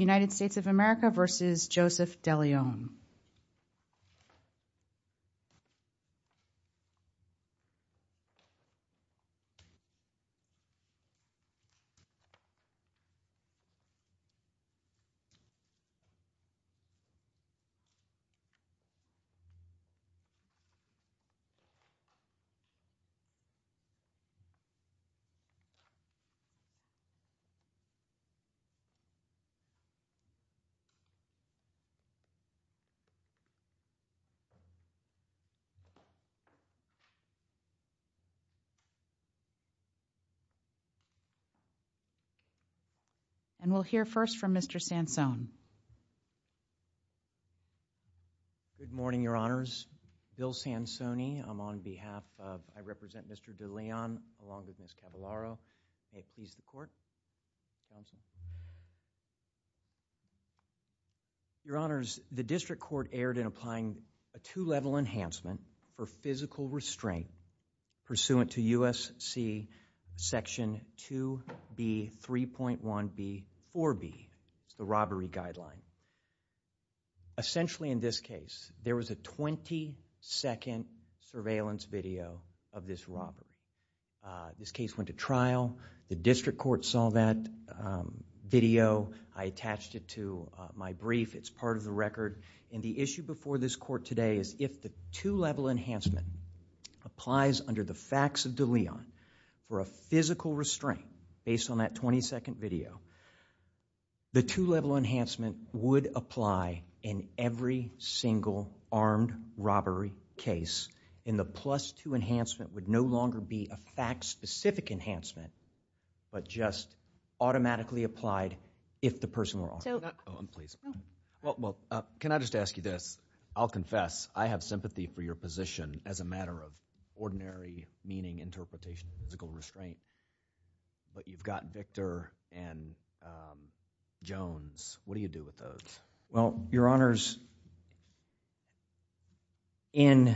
United States of America v. Joseph Deleon And we'll hear first from Mr. Sansone. Good morning, Your Honors. Bill Sansone. I'm on behalf of, I represent Mr. Deleon along with Ms. Cavallaro. May it please the Court. Your Honors, the District Court erred in applying a two-level enhancement for physical restraint pursuant to U.S.C. Section 2B, 3.1b, 4b, the robbery guideline. Essentially in this case, there was a 20-second surveillance video of this robbery. This case went to trial. The District Court saw that video. I attached it to my brief. It's part of the record. And the issue before this Court today is if the two-level enhancement applies under the facts of Deleon for a physical restraint based on that 20-second video, the two-level enhancement would apply in every single armed robbery case. And the plus-two enhancement would no longer be a fact-specific enhancement but just automatically applied if the person were armed. Can I just ask you this? I'll confess. I have sympathy for your position as a matter of ordinary meaning, interpretation, physical restraint. But you've got Victor and Jones. What do you do with those? Well, Your Honors, I'm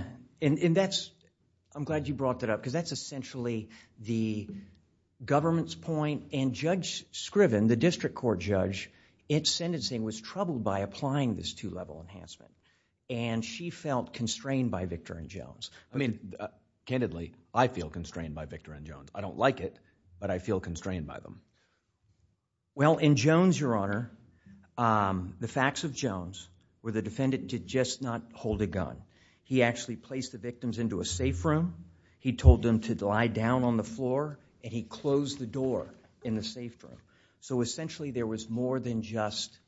glad you brought that up because that's essentially the government's point. And Judge Scriven, the District Court judge, in sentencing was troubled by applying this two-level enhancement. And she felt constrained by Victor and Jones. I mean, candidly, I feel constrained by Victor and Jones. I don't like it, but I feel constrained by them. Well, in Jones, Your Honor, the facts of Jones were the defendant did just not hold a gun. He actually placed the victims into a safe room. He told them to lie down on the floor, and he closed the door in the safe room. So essentially there was more than just—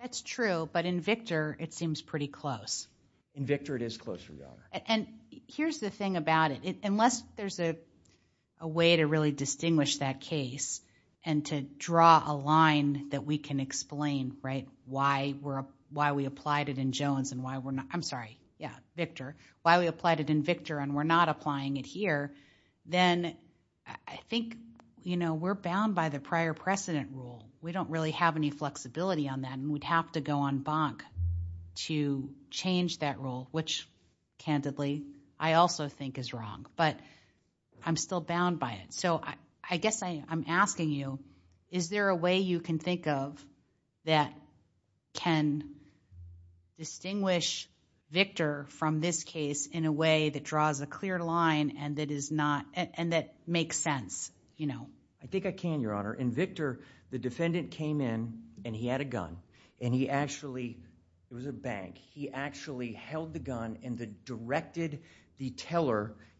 That's true, but in Victor, it seems pretty close. In Victor, it is closer, Your Honor. And here's the thing about it. Unless there's a way to really distinguish that case and to draw a line that we can explain why we applied it in Jones and why we're not— I'm sorry, yeah, Victor. Why we applied it in Victor and we're not applying it here, then I think we're bound by the prior precedent rule. We don't really have any flexibility on that, and we'd have to go en banc to change that rule, which, candidly, I also think is wrong, but I'm still bound by it. So I guess I'm asking you, is there a way you can think of that can distinguish Victor from this case in a way that draws a clear line and that makes sense? I think I can, Your Honor. In Victor, the defendant came in and he had a gun, and he actually—it was a bank. He actually held the gun and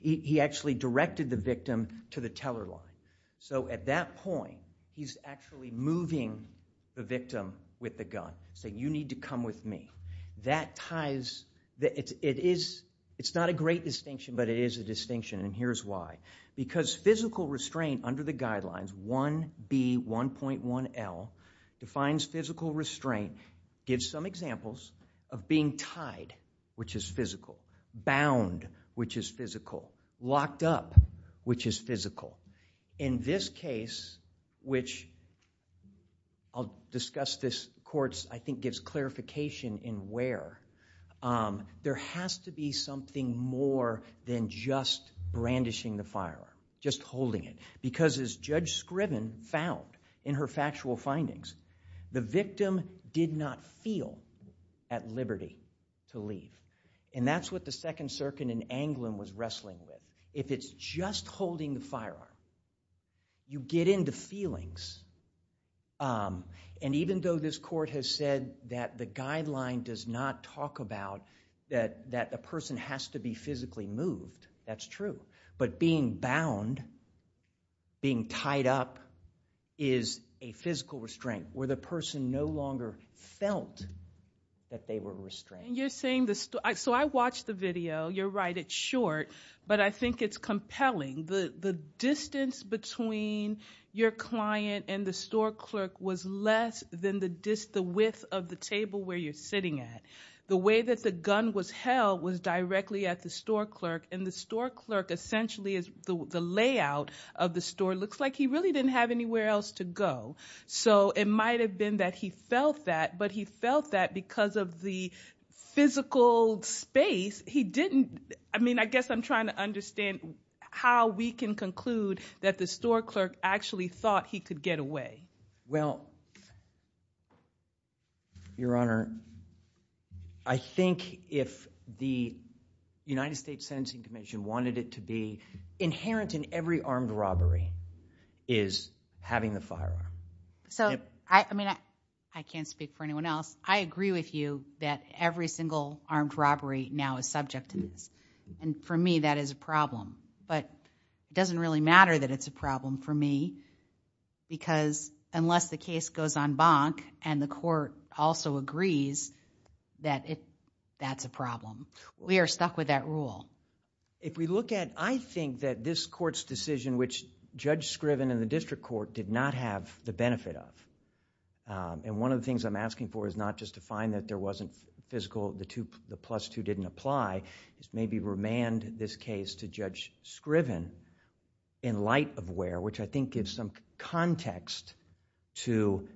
he actually directed the victim to the teller line. So at that point, he's actually moving the victim with the gun, saying, you need to come with me. That ties—it's not a great distinction, but it is a distinction, and here's why. Because physical restraint under the guidelines, 1B1.1L, defines physical restraint, gives some examples of being tied, which is physical, bound, which is physical, locked up, which is physical. In this case, which I'll discuss this— the court, I think, gives clarification in where, there has to be something more than just brandishing the firearm, just holding it. Because as Judge Scriven found in her factual findings, the victim did not feel at liberty to leave. And that's what the Second Circuit in Anglin was wrestling with. If it's just holding the firearm, you get into feelings. And even though this court has said that the guideline does not talk about that a person has to be physically moved, that's true, but being bound, being tied up, is a physical restraint, where the person no longer felt that they were restrained. And you're saying—so I watched the video, you're right, it's short, but I think it's compelling. The distance between your client and the store clerk was less than the width of the table where you're sitting at. The way that the gun was held was directly at the store clerk, and the store clerk essentially is—the layout of the store looks like he really didn't have anywhere else to go. So it might have been that he felt that, but he felt that because of the physical space, he didn't—I mean, I guess I'm trying to understand how we can conclude that the store clerk actually thought he could get away. Well, Your Honor, I think if the United States Sentencing Commission wanted it to be inherent in every armed robbery is having the firearm. So, I mean, I can't speak for anyone else. I agree with you that every single armed robbery now is subject to this, and for me that is a problem. But it doesn't really matter that it's a problem for me because unless the case goes on bonk and the court also agrees that that's a problem. We are stuck with that rule. If we look at, I think that this court's decision which Judge Scriven and the district court did not have the benefit of, and one of the things I'm asking for is not just to find that there wasn't physical, the plus two didn't apply, maybe remand this case to Judge Scriven in light of where, which I think gives some context to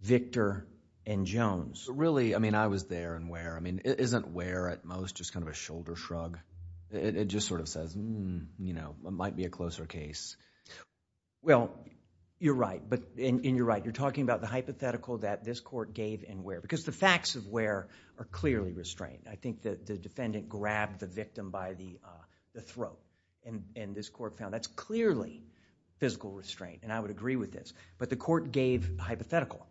Victor and Jones. Really, I mean, I was there and where. I mean, isn't where at most just kind of a shoulder shrug? It just sort of says, you know, it might be a closer case. Well, you're right, and you're right. You're talking about the hypothetical that this court gave and where, because the facts of where are clearly restrained. I think that the defendant grabbed the victim by the throat, and this court found that's clearly physical restraint, and I would agree with this, but the court gave hypothetical,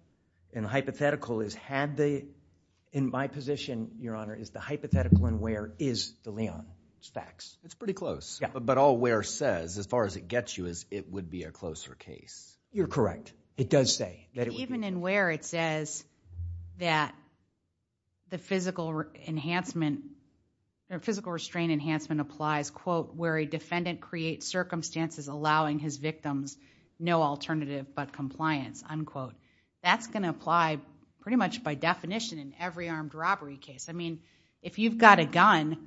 and hypothetical is had the, in my position, Your Honor, is the hypothetical and where is the Leon? It's facts. It's pretty close, but all where says, as far as it gets you, is it would be a closer case. You're correct. It does say. Even in where it says that the physical enhancement, physical restraint enhancement applies, quote, where a defendant creates circumstances allowing his victims no alternative but compliance, unquote. That's going to apply pretty much by definition in every armed robbery case. I mean, if you've got a gun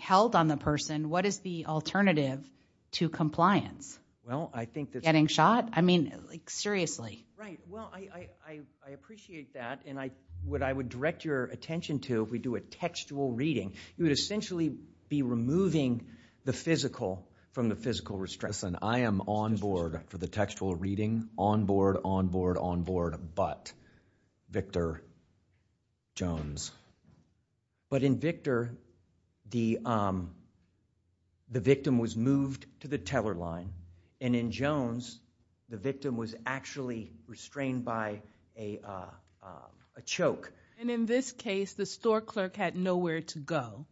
held on the person, what is the alternative to compliance? Well, I think that's... Getting shot? I mean, like seriously. Right. Well, I appreciate that, and what I would direct your attention to, if we do a textual reading, you would essentially be removing the physical from the physical restraint. Listen, I am on board for the textual reading, on board, on board, on board, but Victor Jones. But in Victor, the victim was moved to the teller line, and in Jones, the victim was actually restrained by a choke. And in this case, the store clerk had nowhere to go.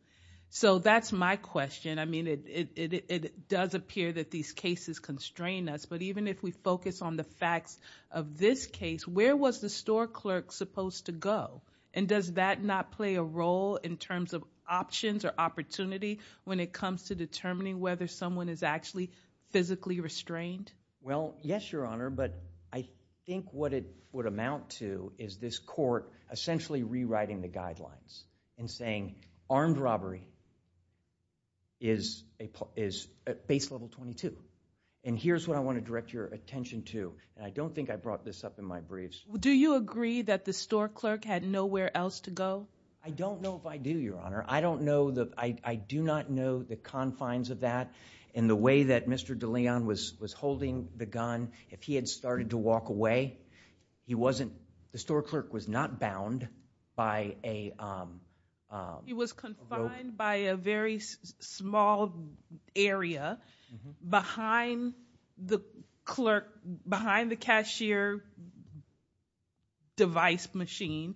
So that's my question. I mean, it does appear that these cases constrain us, but even if we focus on the facts of this case, where was the store clerk supposed to go? And does that not play a role in terms of options or opportunity when it comes to determining whether someone is actually physically restrained? Well, yes, Your Honor, but I think what it would amount to is this court essentially rewriting the guidelines and saying armed robbery is base level 22. And here's what I want to direct your attention to, and I don't think I brought this up in my briefs. Do you agree that the store clerk had nowhere else to go? I don't know if I do, Your Honor. I do not know the confines of that and the way that Mr. DeLeon was holding the gun. If he had started to walk away, the store clerk was not bound by a rope. He was confined by a very small area behind the cashier device machine.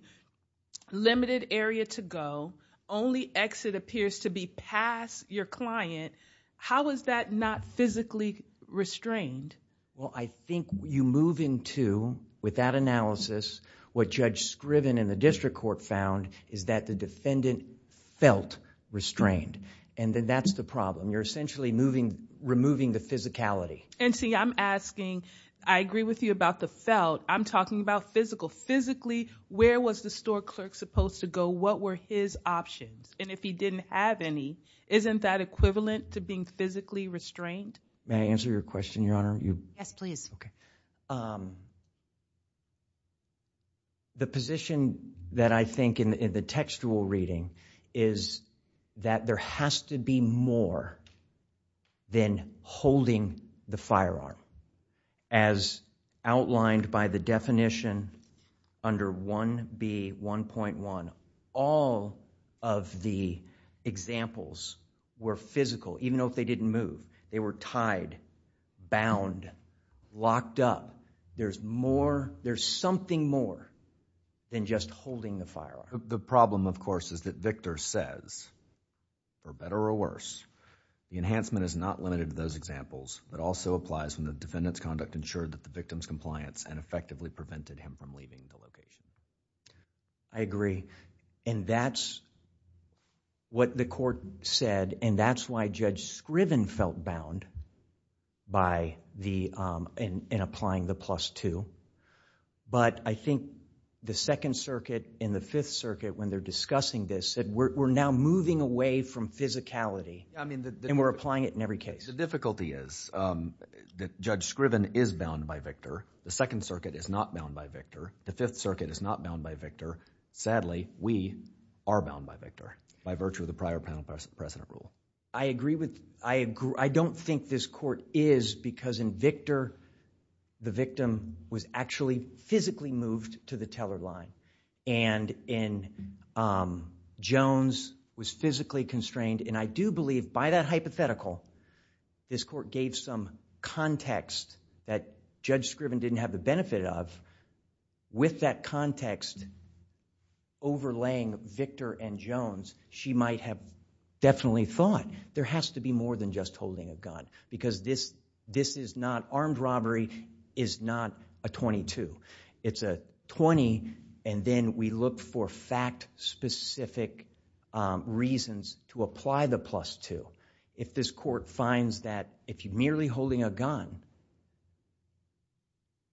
Limited area to go. Only exit appears to be past your client. How is that not physically restrained? Well, I think you move into, with that analysis, what Judge Scriven and the district court found is that the defendant felt restrained. And that's the problem. You're essentially removing the physicality. And see, I'm asking, I agree with you about the felt. I'm talking about physical. Physically, where was the store clerk supposed to go? What were his options? And if he didn't have any, isn't that equivalent to being physically restrained? May I answer your question, Your Honor? Yes, please. Okay. The position that I think in the textual reading is that there has to be more than holding the firearm. As outlined by the definition under 1B1.1, all of the examples were physical, even though they didn't move. They were tied, bound, locked up. There's something more than just holding the firearm. The problem, of course, is that Victor says, for better or worse, the enhancement is not limited to those examples. It also applies when the defendant's conduct ensured that the victim's compliance and effectively prevented him from leaving the location. I agree. And that's what the court said. And that's why Judge Scriven felt bound in applying the plus two. But I think the Second Circuit and the Fifth Circuit, when they're discussing this, said we're now moving away from physicality and we're applying it in every case. The difficulty is that Judge Scriven is bound by Victor. The Second Circuit is not bound by Victor. The Fifth Circuit is not bound by Victor. Sadly, we are bound by Victor by virtue of the prior panel president rule. I agree with... I don't think this court is because in Victor, the victim was actually physically moved to the teller line. And in Jones, was physically constrained. And I do believe, by that hypothetical, this court gave some context that Judge Scriven didn't have the benefit of With that context overlaying Victor and Jones, she might have definitely thought there has to be more than just holding a gun. Because this is not... Armed robbery is not a 22. It's a 20, and then we look for fact-specific reasons to apply the plus two. If this court finds that if you're merely holding a gun,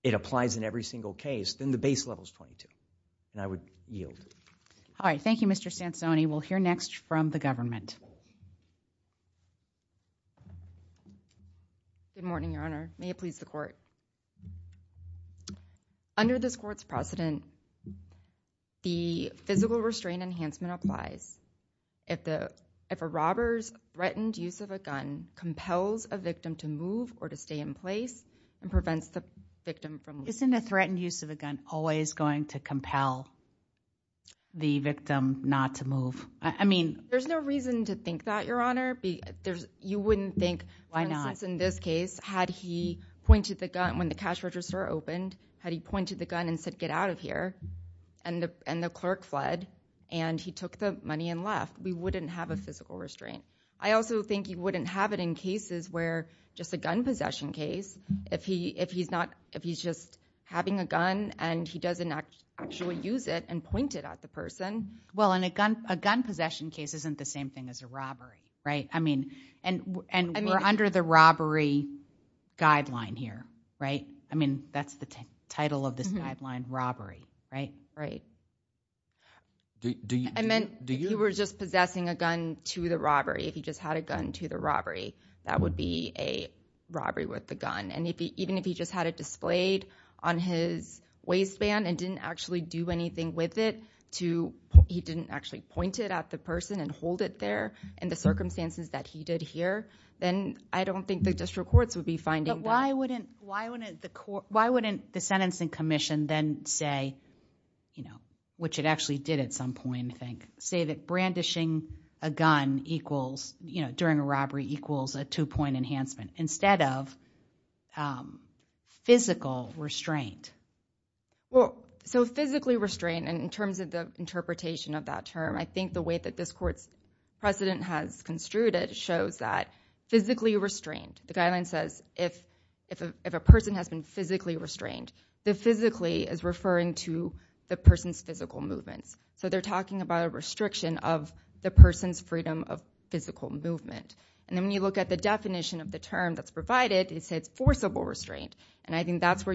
it applies in every single case, then the base level is 22. And I would yield. All right, thank you, Mr. Sansoni. We'll hear next from the government. Good morning, Your Honor. May it please the Court. Under this Court's precedent, the physical restraint enhancement applies if a robber's threatened use of a gun compels a victim to move or to stay in place and prevents the victim from moving. Isn't a threatened use of a gun always going to compel the victim not to move? I mean... There's no reason to think that, Your Honor. You wouldn't think... Why not? For instance, in this case, had he pointed the gun when the cash register opened, had he pointed the gun and said, get out of here, and the clerk fled, and he took the money and left, we wouldn't have a physical restraint. I also think you wouldn't have it in cases where just a gun possession case, if he's just having a gun and he doesn't actually use it and point it at the person. Well, and a gun possession case isn't the same thing as a robbery, right? I mean... And we're under the robbery guideline here, right? I mean, that's the title of this guideline, robbery, right? Right. I meant... If he just had a gun to the robbery, that would be a robbery with the gun. And even if he just had it displayed on his waistband and didn't actually do anything with it, he didn't actually point it at the person and hold it there in the circumstances that he did here, then I don't think the district courts would be finding... But why wouldn't the sentencing commission then say, which it actually did at some point, I think, say that brandishing a gun during a robbery equals a two-point enhancement, instead of physical restraint? Well, so physically restraint, and in terms of the interpretation of that term, I think the way that this court's precedent has construed it shows that physically restraint, the guideline says, if a person has been physically restrained, the physically is referring to the person's physical movements. So they're talking about a restriction of the person's freedom of physical movement. And then when you look at the definition of the term that's provided, it says forcible restraint. And I think that's where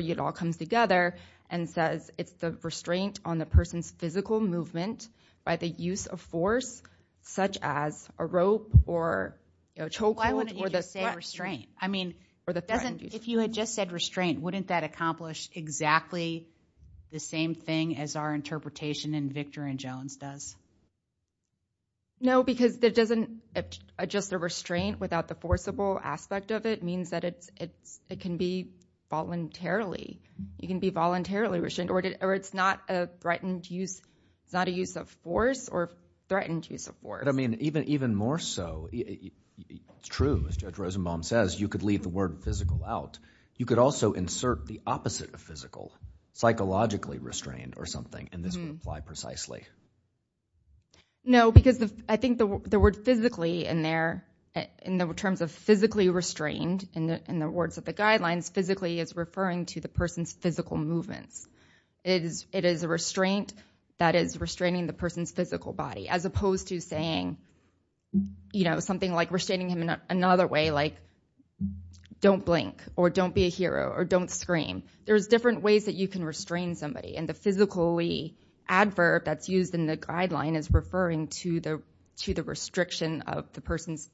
it all comes together and says it's the restraint on the person's physical movement by the use of force, such as a rope or a chokehold... Why wouldn't you just say restraint? I mean... If you had just said restraint, wouldn't that accomplish exactly the same thing as our interpretation in Victor and Jones does? No, because it doesn't... Just the restraint without the forcible aspect of it means that it can be voluntarily... You can be voluntarily restrained, or it's not a threatened use... It's not a use of force or threatened use of force. But I mean, even more so... It's true, as Judge Rosenbaum says, you could leave the word physical out. You could also insert the opposite of physical, psychologically restrained or something, and this would apply precisely. No, because I think the word physically in there... In terms of physically restrained, in the words of the guidelines, physically is referring to the person's physical movements. It is a restraint that is restraining the person's physical body, as opposed to saying something like restraining him in another way, like don't blink, or don't be a hero, or don't scream. There's different ways that you can restrain somebody, and the physically adverb that's used in the guideline is referring to the restriction of the person's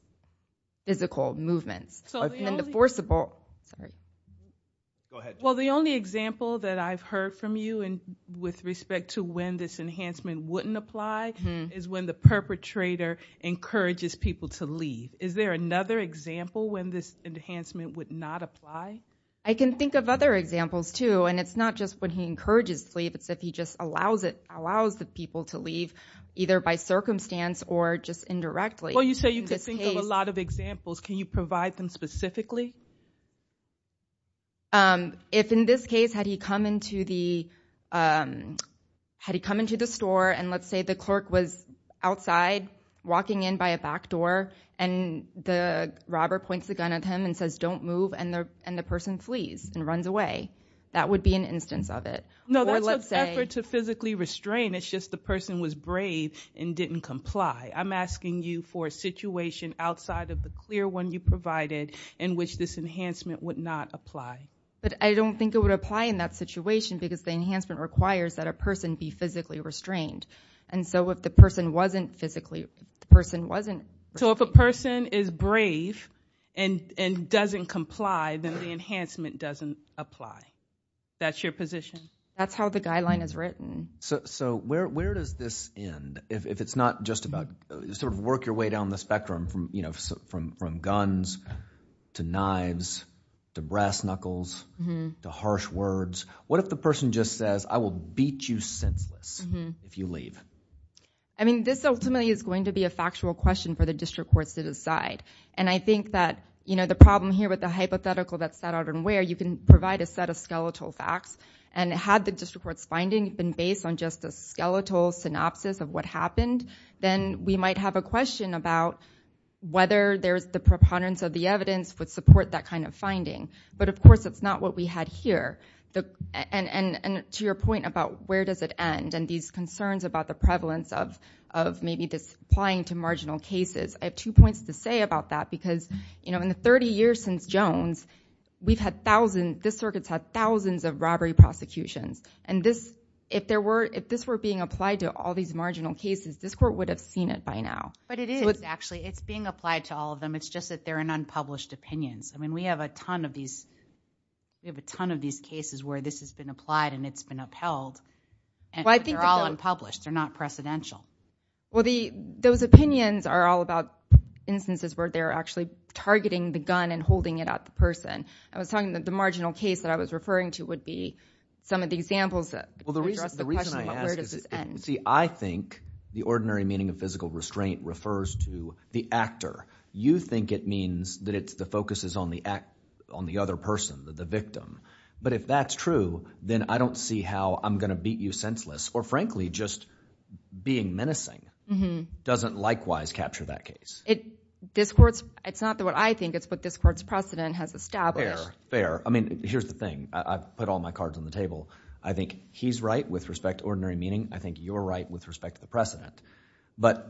physical movements. Well, the only example that I've heard from you with respect to when this enhancement wouldn't apply is when the perpetrator encourages people to leave. Is there another example when this enhancement would not apply? I can think of other examples, too, and it's not just when he encourages leave. It's if he just allows the people to leave, either by circumstance or just indirectly. Well, you say you can think of a lot of examples. Can you provide them specifically? If in this case, had he come into the store, and let's say the clerk was outside, walking in by a back door, and the robber points the gun at him and says, don't move, and the person flees and runs away, that would be an instance of it. No, that's an effort to physically restrain. It's just the person was brave and didn't comply. I'm asking you for a situation outside of the clear one you provided in which this enhancement would not apply. But I don't think it would apply in that situation because the enhancement requires that a person be physically restrained. And so if the person wasn't physically restrained... and didn't comply, then the enhancement doesn't apply. That's your position? That's how the guideline is written. So where does this end? If it's not just about sort of work your way down the spectrum from guns to knives to brass knuckles to harsh words, what if the person just says, I will beat you senseless if you leave? I mean, this ultimately is going to be a factual question for the district courts to decide. And I think that the problem here with the hypothetical that's set out and where, you can provide a set of skeletal facts. And had the district court's finding been based on just a skeletal synopsis of what happened, then we might have a question about whether the preponderance of the evidence would support that kind of finding. But, of course, it's not what we had here. And to your point about where does it end and these concerns about the prevalence of maybe this applying to marginal cases, I have two points to say about that. Because in the 30 years since Jones, this circuit's had thousands of robbery prosecutions. And if this were being applied to all these marginal cases, this court would have seen it by now. But it is, actually. It's being applied to all of them. It's just that they're in unpublished opinions. I mean, we have a ton of these cases where this has been applied and it's been upheld. Well, I think they're all unpublished. They're not precedential. Well, those opinions are all about instances where they're actually targeting the gun and holding it at the person. The marginal case that I was referring to would be some of the examples that address the question about where does this end. See, I think the ordinary meaning of physical restraint refers to the actor. You think it means that the focus is on the other person, the victim. But if that's true, then I don't see how I'm going to beat you senseless or, frankly, just being menacing doesn't likewise capture that case. It's not what I think. It's what this court's precedent has established. Fair, fair. I mean, here's the thing. I've put all my cards on the table. I think he's right with respect to ordinary meaning. I think you're right with respect to the precedent. But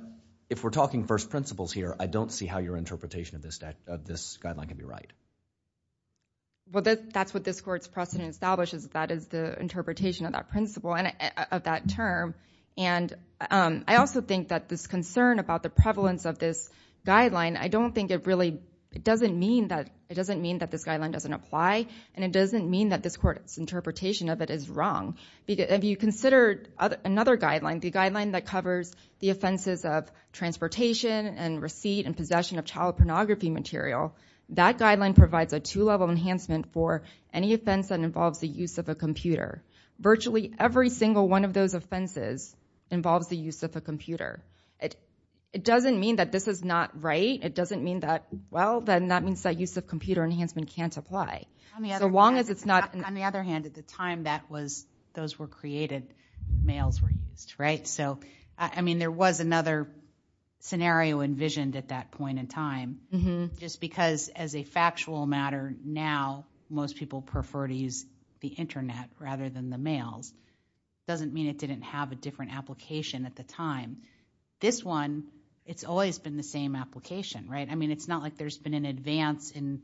if we're talking first principles here, I don't see how your interpretation of this guideline can be right. Well, that's what this court's precedent establishes. That is the interpretation of that principle and of that term. And I also think that this concern about the prevalence of this guideline, I don't think it really... It doesn't mean that this guideline doesn't apply, and it doesn't mean that this court's interpretation of it is wrong. If you consider another guideline, the guideline that covers the offenses of transportation and receipt and possession of child pornography material, that guideline provides a two-level enhancement for any offense that involves the use of a computer. Virtually every single one of those offenses involves the use of a computer. It doesn't mean that this is not right. It doesn't mean that, well, then that means that use of computer enhancement can't apply. So long as it's not... On the other hand, at the time that was... those were created, mails were used, right? So, I mean, there was another scenario envisioned at that point in time. Mm-hmm. Just because, as a factual matter, now most people prefer to use the Internet rather than the mails, doesn't mean it didn't have a different application at the time. This one, it's always been the same application, right? I mean, it's not like there's been an advance in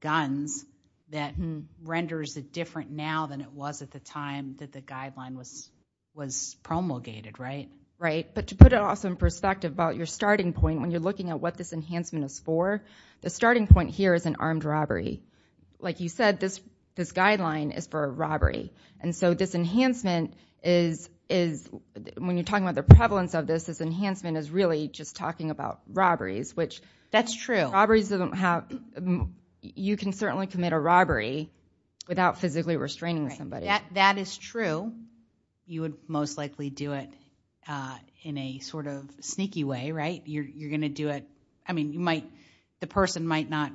guns that renders it different now than it was at the time that the guideline was promulgated, right? Right, but to put it also in perspective about your starting point, when you're looking at what this enhancement is for, the starting point here is an armed robbery. Like you said, this guideline is for a robbery. And so this enhancement is... when you're talking about the prevalence of this, this enhancement is really just talking about robberies, which... That's true. Robberies don't have... You can certainly commit a robbery without physically restraining somebody. That is true. You would most likely do it in a sort of sneaky way, right? You're going to do it... I mean, you might... The person might not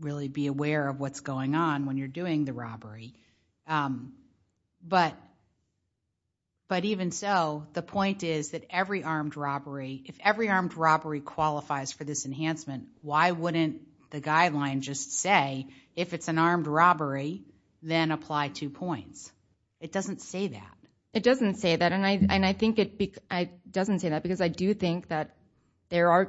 really be aware of what's going on when you're doing the robbery. But even so, the point is that every armed robbery... If every armed robbery qualifies for this enhancement, why wouldn't the guideline just say, if it's an armed robbery, then apply two points? It doesn't say that. It doesn't say that, and I think it... It doesn't say that because I do think that there are...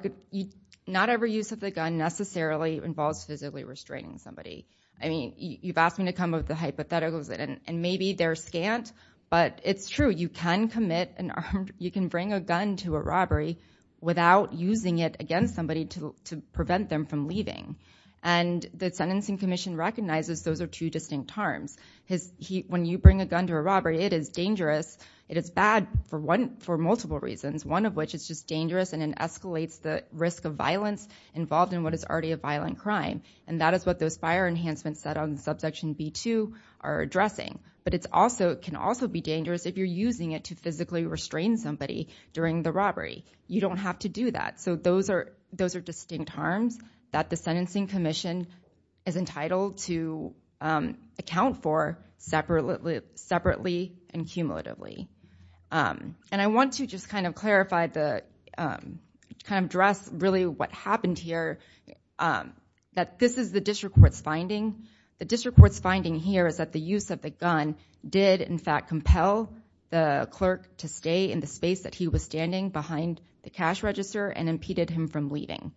Not every use of the gun necessarily involves physically restraining somebody. I mean, you've asked me to come up with the hypotheticals, and maybe they're scant, but it's true. You can commit an armed... You can bring a gun to a robbery without using it against somebody to prevent them from leaving. And the Sentencing Commission recognizes those are two distinct harms. When you bring a gun to a robbery, it is dangerous. It is bad for multiple reasons, one of which is just dangerous, and it escalates the risk of violence involved in what is already a violent crime. And that is what those fire enhancements that are in subsection B2 are addressing. But it can also be dangerous if you're using it to physically restrain somebody during the robbery. You don't have to do that. So those are distinct harms that the Sentencing Commission is entitled to account for separately and cumulatively. And I want to just kind of clarify the... kind of address, really, what happened here, that this is the district court's finding. The district court's finding here is that the use of the gun did, in fact, compel the clerk to stay in the space that he was standing behind the cash register and impeded him from leaving.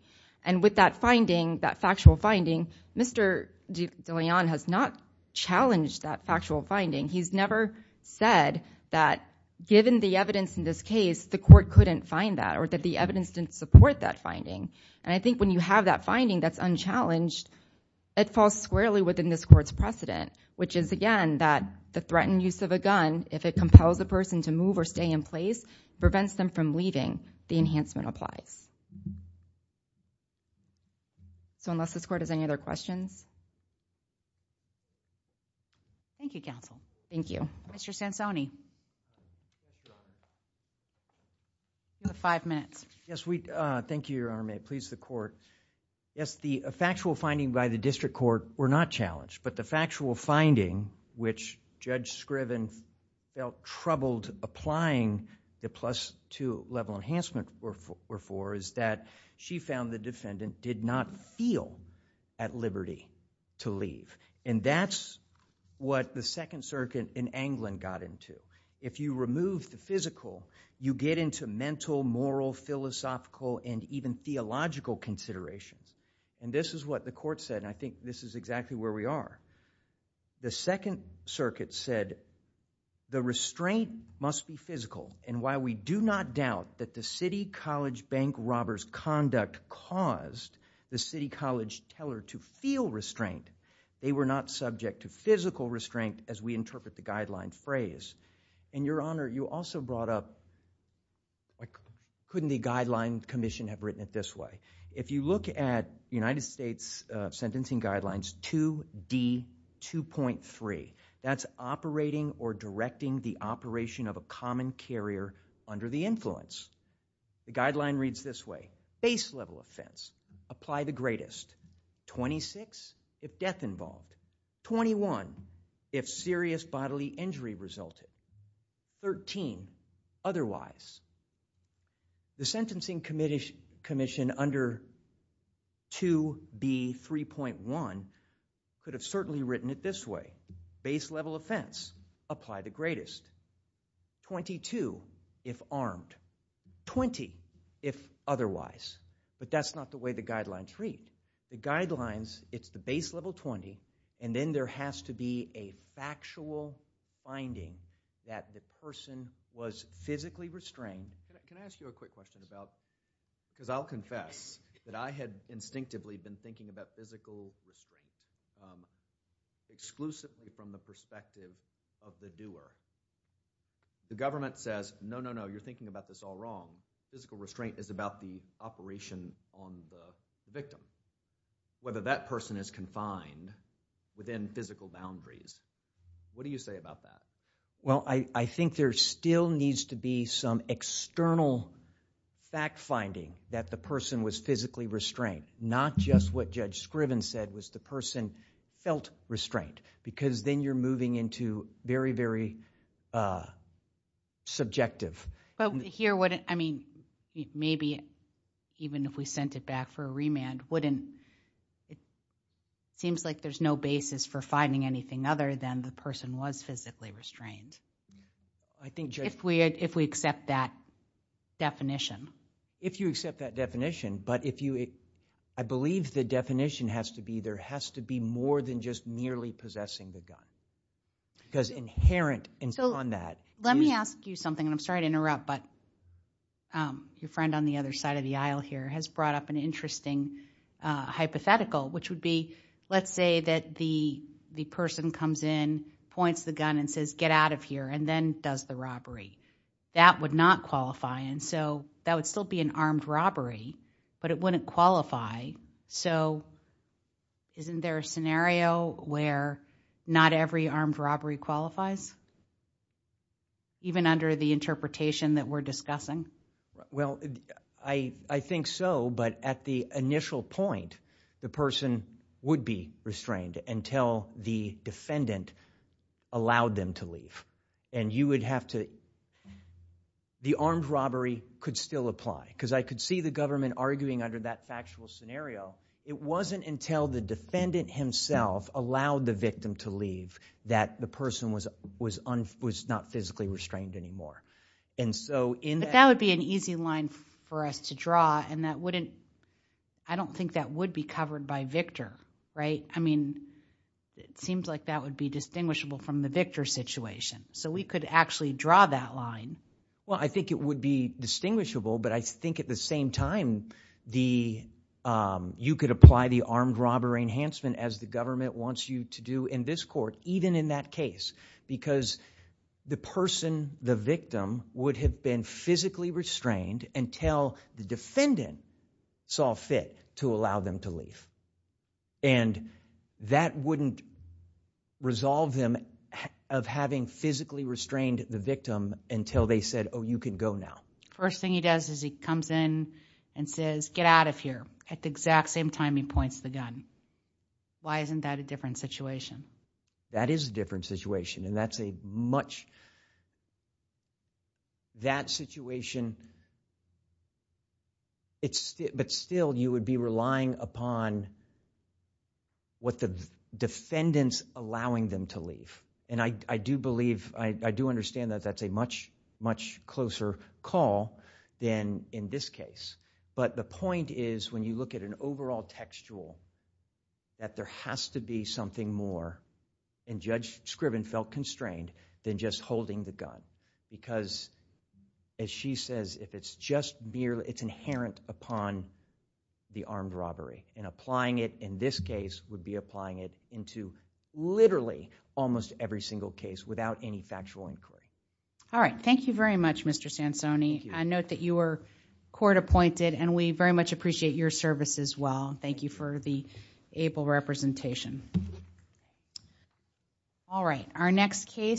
And with that finding, that factual finding, Mr. DeLeon has not challenged that factual finding. He's never said that, given the evidence in this case, the court couldn't find that, or that the evidence didn't support that finding. And I think when you have that finding that's unchallenged, it falls squarely within this court's precedent, which is, again, that the threatened use of a gun, if it compels a person to move or stay in place, prevents them from leaving. The enhancement applies. So unless this court has any other questions... Thank you, counsel. Thank you. Mr. Sansoni. You have five minutes. Yes, we... Thank you, Your Honor. May it please the court. Yes, the factual finding by the district court were not challenged, but the factual finding, which Judge Scriven felt troubled applying the plus-two level enhancement were for, is that she found the defendant did not feel at liberty to leave. And that's what the Second Circuit in England got into. If you remove the physical, you get into mental, moral, philosophical, and even theological considerations. And this is what the court said, and I think this is exactly where we are. The Second Circuit said, the restraint must be physical, and while we do not doubt that the City College bank robber's conduct caused the City College teller to feel restraint, they were not subject to physical restraint as we interpret the guideline phrase. And, Your Honor, you also brought up... Couldn't the Guideline Commission have written it this way? If you look at United States Sentencing Guidelines 2D2.3, that's operating or directing the operation of a common carrier under the influence. The guideline reads this way. Base-level offense. Apply the greatest. 26 if death involved. 21 if serious bodily injury resulted. 13 otherwise. The Sentencing Commission under 2B3.1 could have certainly written it this way. Base-level offense. Apply the greatest. 22 if armed. 20 if otherwise. But that's not the way the guidelines read. The guidelines, it's the base-level 20, and then there has to be a factual finding that the person was physically restrained. Can I ask you a quick question about... Because I'll confess that I had instinctively been thinking about physical restraint exclusively from the perspective of the doer. The government says, no, no, no, you're thinking about this all wrong. Physical restraint is about the operation on the victim. Whether that person is confined within physical boundaries. What do you say about that? Well, I think there still needs to be some external fact-finding that the person was physically restrained. Not just what Judge Scriven said was the person felt restrained. Because then you're moving into very, very subjective... But here, I mean, maybe even if we sent it back for a remand, wouldn't... It seems like there's no basis for finding anything other than the person was physically restrained. If we accept that definition. If you accept that definition, but if you... I believe the definition has to be there has to be more than just nearly possessing the gun. Because inherent on that... Let me ask you something, and I'm sorry to interrupt, but your friend on the other side of the aisle here has brought up an interesting hypothetical, which would be, let's say that the person comes in, points the gun and says, get out of here, and then does the robbery. That would not qualify, and so that would still be an armed robbery, but it wouldn't qualify. So isn't there a scenario where not every armed robbery qualifies? Even under the interpretation that we're discussing? Well, I think so, but at the initial point, the person would be restrained until the defendant allowed them to leave. And you would have to... The armed robbery could still apply. Because I could see the government arguing under that factual scenario. It wasn't until the defendant himself allowed the victim to leave that the person was not physically restrained anymore. But that would be an easy line for us to draw, and I don't think that would be covered by Victor, right? I mean, it seems like that would be distinguishable from the Victor situation. So we could actually draw that line. Well, I think it would be distinguishable, but I think at the same time, you could apply the armed robbery enhancement as the government wants you to do in this court, even in that case, because the person, the victim, would have been physically restrained until the defendant saw fit to allow them to leave. And that wouldn't resolve them of having physically restrained the victim until they said, oh, you can go now. First thing he does is he comes in and says, get out of here, at the exact same time he points the gun. Why isn't that a different situation? That is a different situation, and that's a much... That situation... But still, you would be relying upon what the defendant's allowing them to leave. And I do believe, I do understand that that's a much, much closer call than in this case. But the point is, when you look at an overall textual, that there has to be something more, and Judge Scriven felt constrained, than just holding the gun. Because, as she says, if it's just merely... It's inherent upon the armed robbery. And applying it in this case would be applying it into literally almost every single case without any factual inquiry. All right, thank you very much, Mr. Sansoni. I note that you were court appointed, and we very much appreciate your service as well. Thank you for the able representation. All right, our next case...